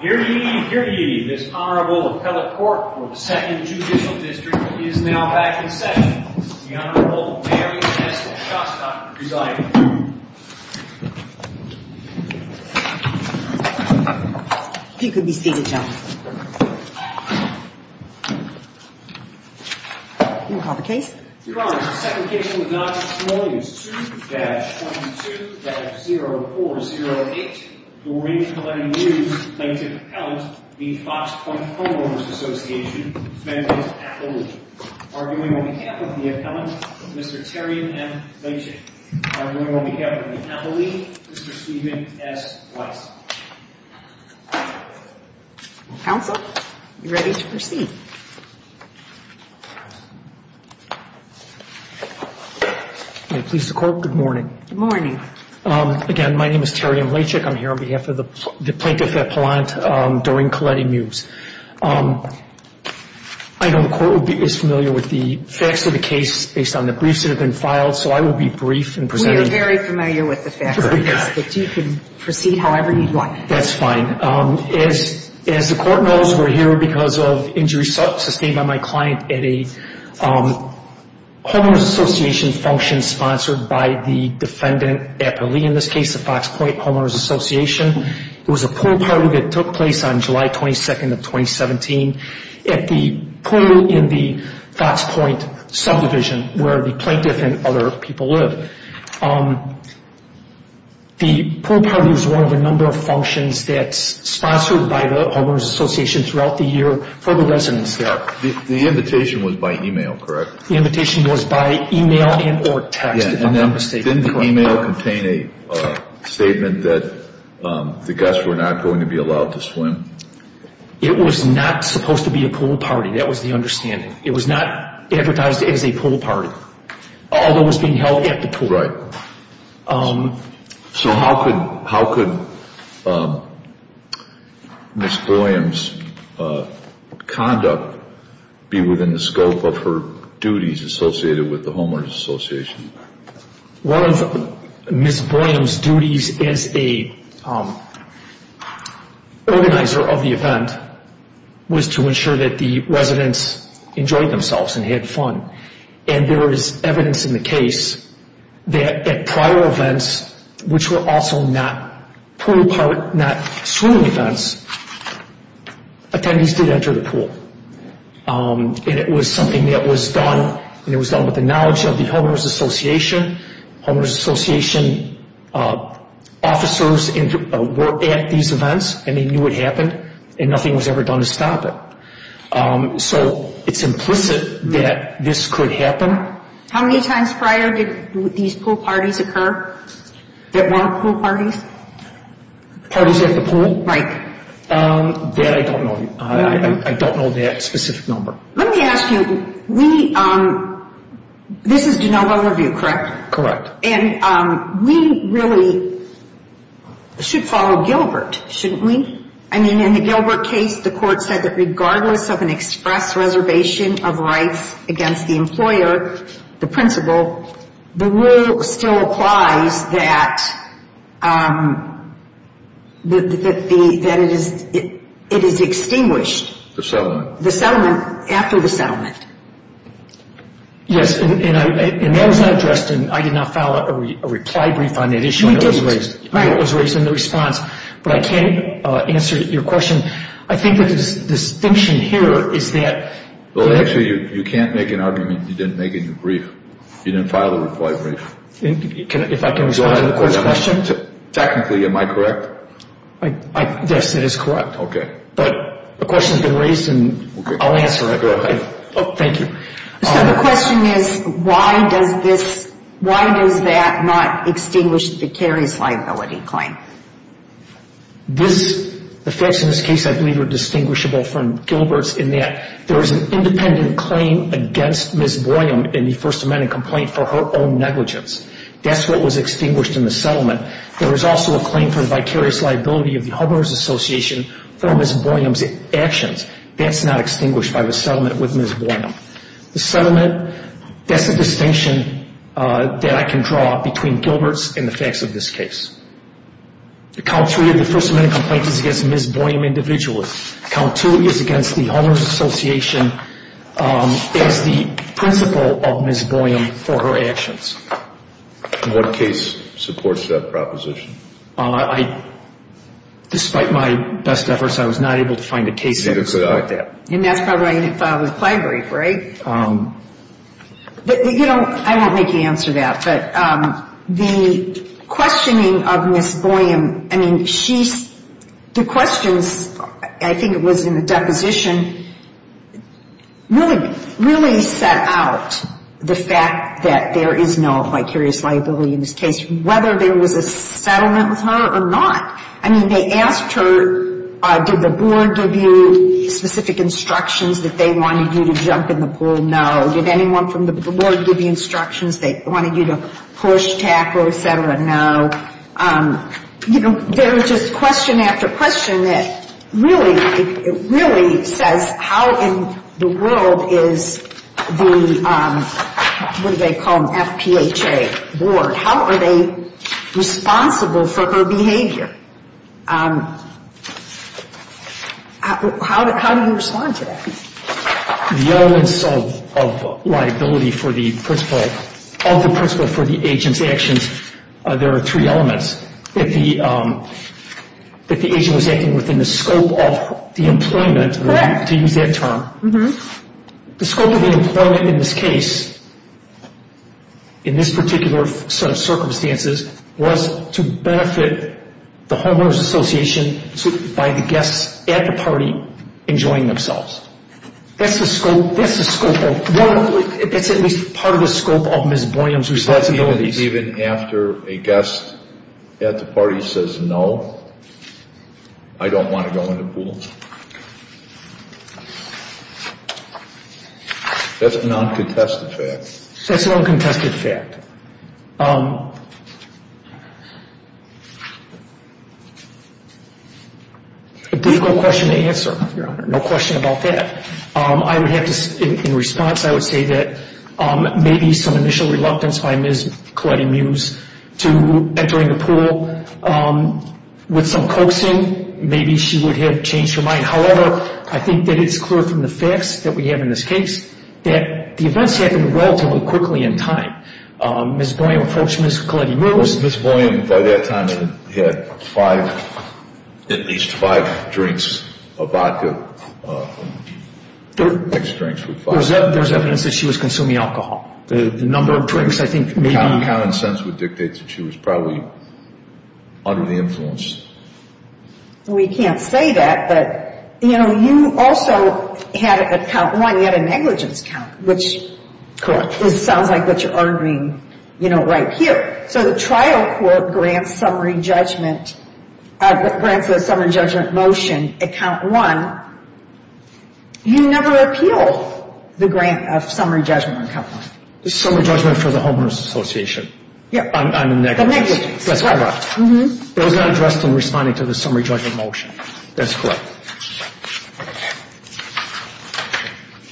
Here ye, here ye, this Honorable Appellate Court for the 2nd Judicial District is now back in session. The Honorable Mary S. Shostock presiding. If you could be seated, gentlemen. You can call the case. Your Honor, the second case in the Dodgers-Smallies, 2-22-0408. Doreen Helenu plaintiff appellant v. Fox Point Homeowners Association v. Appellee. Arguing on behalf of the appellant, Mr. Terry M. Leachick. Arguing on behalf of the appellee, Mr. Steven S. Weiss. Counsel, you're ready to proceed. May it please the Court, good morning. Good morning. Again, my name is Terry M. Leachick. I'm here on behalf of the plaintiff appellant, Doreen Coletti Mews. I know the Court is familiar with the facts of the case based on the briefs that have been filed, so I will be brief in presenting. We are very familiar with the facts of the case, but you can proceed however you'd like. That's fine. As the Court knows, we're here because of injuries sustained by my client at a homeowners association function sponsored by the defendant appellee, in this case the Fox Point Homeowners Association. It was a pool party that took place on July 22nd of 2017 at the pool in the Fox Point subdivision where the plaintiff and other people live. The pool party was one of a number of functions that's sponsored by the homeowners association throughout the year for the residents there. The invitation was by email, correct? The invitation was by email and or text, if I'm not mistaken. Didn't the email contain a statement that the guests were not going to be allowed to swim? It was not supposed to be a pool party. That was the understanding. It was not advertised as a pool party. Although it was being held at the pool. Right. So how could Ms. Boyum's conduct be within the scope of her duties associated with the homeowners association? One of Ms. Boyum's duties as the organizer of the event was to ensure that the residents enjoyed themselves and had fun. And there is evidence in the case that at prior events, which were also not pool events, attendees did enter the pool. And it was something that was done and it was done with the knowledge of the homeowners association. Homeowners association officers were at these events and they knew what happened and nothing was ever done to stop it. So it's implicit that this could happen. How many times prior did these pool parties occur that weren't pool parties? Parties at the pool? Right. That I don't know. I don't know that specific number. Let me ask you, this is DeNova Review, correct? Correct. And we really should follow Gilbert, shouldn't we? I mean, in the Gilbert case, the court said that regardless of an express reservation of rights against the employer, the principal, the rule still applies that it is extinguished. The settlement. The settlement after the settlement. Yes, and that was not addressed and I did not file a reply brief on that issue. You didn't. It was raised in the response, but I can't answer your question. I think the distinction here is that. Actually, you can't make an argument you didn't make in your brief. You didn't file a reply brief. If I can respond to the court's question? Technically, am I correct? Yes, it is correct. Okay. But the question has been raised and I'll answer it. Go ahead. Thank you. So the question is, why does this, why does that not extinguish the vicarious liability claim? This, the facts in this case I believe are distinguishable from Gilbert's in that there is an independent claim against Ms. Boyum in the First Amendment complaint for her own negligence. That's what was extinguished in the settlement. There is also a claim for vicarious liability of the homeowners association for Ms. Boyum's actions. That's not extinguished by the settlement with Ms. Boyum. The settlement, that's the distinction that I can draw between Gilbert's and the facts of this case. The count three of the First Amendment complaint is against Ms. Boyum individually. Count two is against the homeowners association as the principal of Ms. Boyum for her actions. What case supports that proposition? I, despite my best efforts, I was not able to find a case that supports that. And that's probably if I was plagued with grief, right? You know, I won't make you answer that. But the questioning of Ms. Boyum, I mean, she's, the questions, I think it was in the deposition, really set out the fact that there is no vicarious liability in this case, whether there was a settlement with her or not. I mean, they asked her, did the board give you specific instructions that they wanted you to jump in the pool? No. Did anyone from the board give you instructions they wanted you to push, tackle, et cetera? No. There is just question after question that really, really says how in the world is the, what do they call them, FPHA board, how are they responsible for her behavior? How do you respond to that? The elements of liability for the principal, of the principal for the agent's actions, there are three elements. One is that the agent was acting within the scope of the employment, to use that term. The scope of the employment in this case, in this particular set of circumstances, was to benefit the homeowners association by the guests at the party enjoying themselves. That's the scope of, that's at least part of the scope of Ms. Boyum's responsibilities. Even after a guest at the party says no, I don't want to go in the pool. That's a non-contested fact. That's a non-contested fact. A difficult question to answer, Your Honor. No question about that. I would have to, in response, I would say that maybe some initial reluctance by Ms. Colletti-Mewes to entering the pool with some coaxing, maybe she would have changed her mind. However, I think that it's clear from the facts that we have in this case that the events happened relatively quickly in time. Ms. Boyum approached Ms. Colletti-Mewes. Ms. Boyum, by that time, had five, at least five drinks of vodka, mixed drinks with vodka. There's evidence that she was consuming alcohol. The number of drinks, I think, maybe. Common sense would dictate that she was probably under the influence. We can't say that, but, you know, you also had a count one, you had a negligence count, which sounds like what you're arguing, you know, right here. So the trial court grants summary judgment, grants a summary judgment motion at count one. You never appeal the grant of summary judgment on count one. The summary judgment for the homeless association. Yeah. On the negligence. The negligence. That's correct. It was not addressed in responding to the summary judgment motion. That's correct.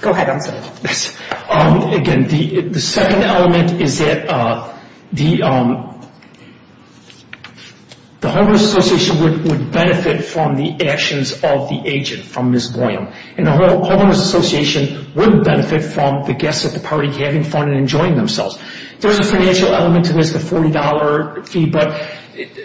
Go ahead, I'm sorry. Again, the second element is that the homeless association would benefit from the actions of the agent, from Ms. Boyum. And the homeless association would benefit from the guests at the party having fun and enjoying themselves. There's a financial element to this, the $40 fee, but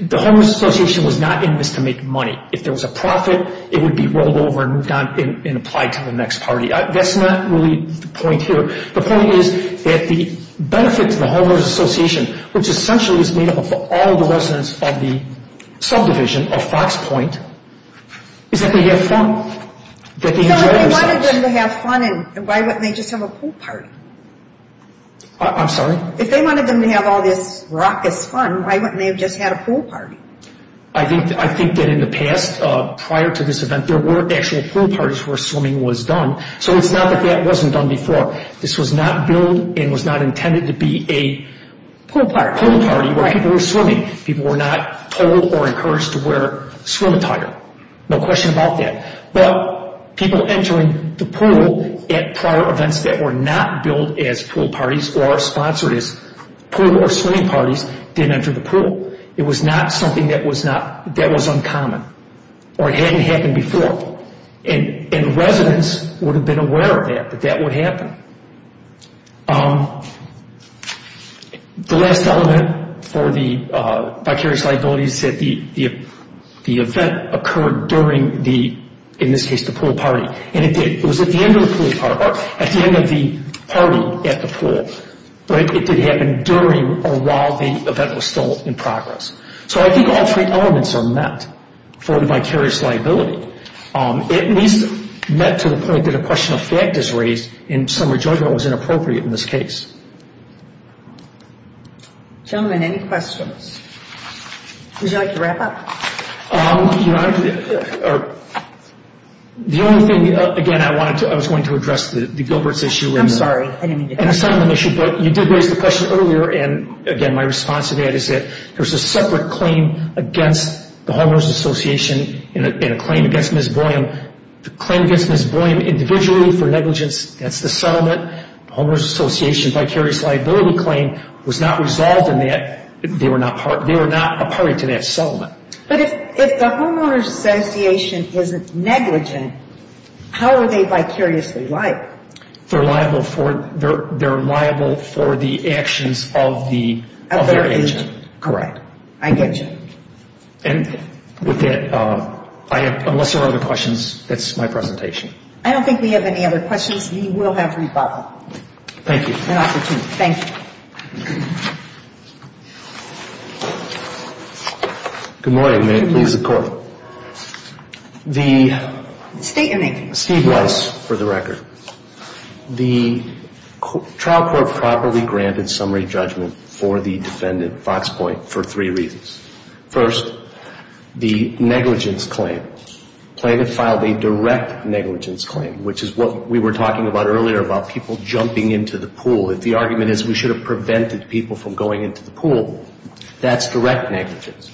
the homeless association was not in this to make money. If there was a profit, it would be rolled over and moved on and applied to the next party. That's not really the point here. The point is that the benefit to the homeless association, which essentially is made up of all the residents of the subdivision of Fox Point, is that they have fun. So if they wanted them to have fun, why wouldn't they just have a pool party? I'm sorry? If they wanted them to have all this raucous fun, why wouldn't they have just had a pool party? I think that in the past, prior to this event, there were actual pool parties where swimming was done. So it's not that that wasn't done before. This was not billed and was not intended to be a pool party where people were swimming. People were not told or encouraged to wear swim attire. No question about that. But people entering the pool at prior events that were not billed as pool parties or sponsored as pool or swimming parties didn't enter the pool. It was not something that was uncommon or hadn't happened before. And residents would have been aware of that, that that would happen. The last element for the vicarious liability is that the event occurred during the, in this case, the pool party. It was at the end of the pool party, or at the end of the party at the pool. It did happen during or while the event was still in progress. So I think all three elements are met for the vicarious liability. It needs to be met to the point that a question of fact is raised and some rejoinment was inappropriate in this case. Gentlemen, any questions? Would you like to wrap up? The only thing, again, I wanted to, I was going to address the Gilbert's issue. I'm sorry, I didn't mean to. And the settlement issue, but you did raise the question earlier. And, again, my response to that is that there's a separate claim against the Homeowners Association and a claim against Ms. Boyum. The claim against Ms. Boyum individually for negligence, that's the settlement. The Homeowners Association vicarious liability claim was not resolved in that. They were not a party to that settlement. But if the Homeowners Association is negligent, how are they vicariously liable? They're liable for the actions of their agent. Correct. I get you. And with that, unless there are other questions, that's my presentation. I don't think we have any other questions. We will have rebuttal. Thank you. Good opportunity. Thank you. Good morning. May it please the Court. State your name, please. Steve Weiss, for the record. The trial court properly granted summary judgment for the defendant, Fox Point, for three reasons. First, the negligence claim, plaintiff filed a direct negligence claim, which is what we were talking about earlier about people jumping into the pool. If the argument is we should have prevented people from going into the pool, that's direct negligence.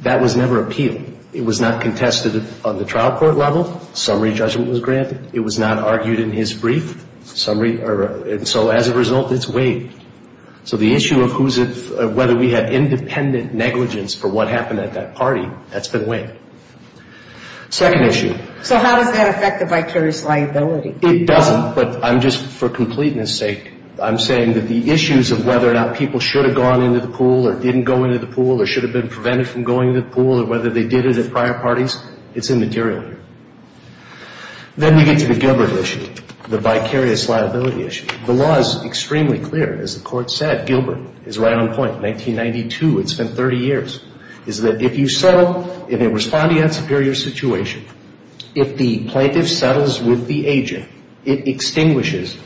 That was never appealed. It was not contested on the trial court level. Summary judgment was granted. It was not argued in his brief. So as a result, it's waived. So the issue of whether we had independent negligence for what happened at that party, that's been waived. Second issue. So how does that affect the vicarious liability? It doesn't, but I'm just, for completeness sake, I'm saying that the issues of whether or not people should have gone into the pool or didn't go into the pool or should have been prevented from going into the pool or whether they did it at prior parties, it's immaterial here. Then we get to the Gilbert issue, the vicarious liability issue. The law is extremely clear. As the Court said, Gilbert is right on point. 1992, it's been 30 years. The reason why it's been 30 years is that if you settle, if it was a bond-yacht superior situation, if the plaintiff settles with the agent, it extinguishes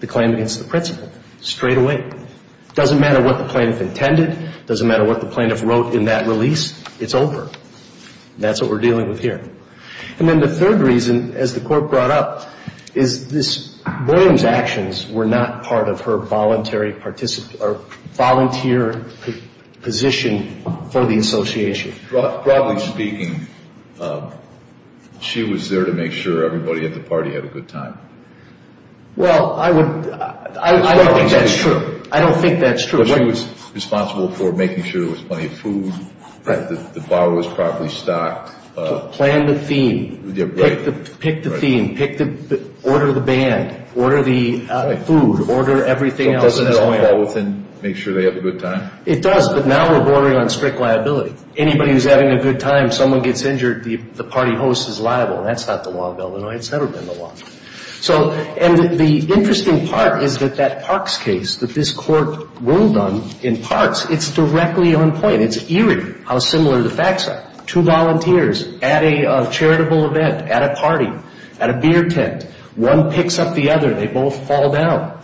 the claim against the principal straightaway. It doesn't matter what the plaintiff intended. It doesn't matter what the plaintiff wrote in that release. It's over. That's what we're dealing with here. And then the third reason, as the Court brought up, is this Williams' actions were not part of her volunteer position for the association. Broadly speaking, she was there to make sure everybody at the party had a good time. Well, I don't think that's true. I don't think that's true. She was responsible for making sure there was plenty of food, that the bar was properly stocked. Plan the theme. Pick the theme. Order the band. Order the food. Order everything else. Doesn't that fall within make sure they have a good time? It does, but now we're bordering on strict liability. Anybody who's having a good time, someone gets injured, the party host is liable. That's not the law of Illinois. It's never been the law. And the interesting part is that that Parks case, that this Court ruled on in Parks, it's directly on point. It's eerie how similar the facts are. Two volunteers at a charitable event, at a party, at a beer tent, one picks up the other, they both fall down.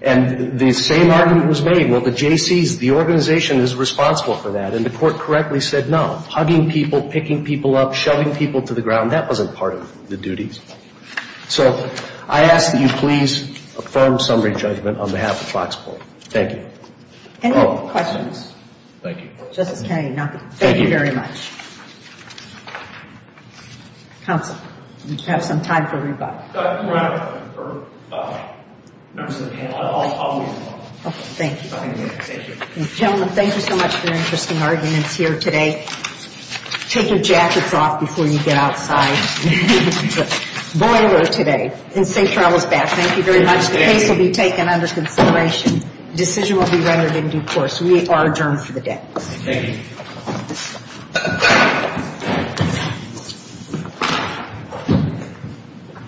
And the same argument was made, well, the JCs, the organization is responsible for that, and the Court correctly said no. Hugging people, picking people up, shoving people to the ground, that wasn't part of the duties. So I ask that you please affirm summary judgment on behalf of Foxport. Thank you. Any questions? Thank you. Justice Kennedy, nothing. Thank you very much. Counsel, you have some time for rebuttal. No, I don't. Members of the panel, I'll leave it alone. Okay, thank you. Gentlemen, thank you so much for your interesting arguments here today. Take your jackets off before you get outside. It's a boiler today in St. Charles' Back. Thank you very much. The case will be taken under consideration. The decision will be rendered in due course. We are adjourned for the day. Thank you. Thank you.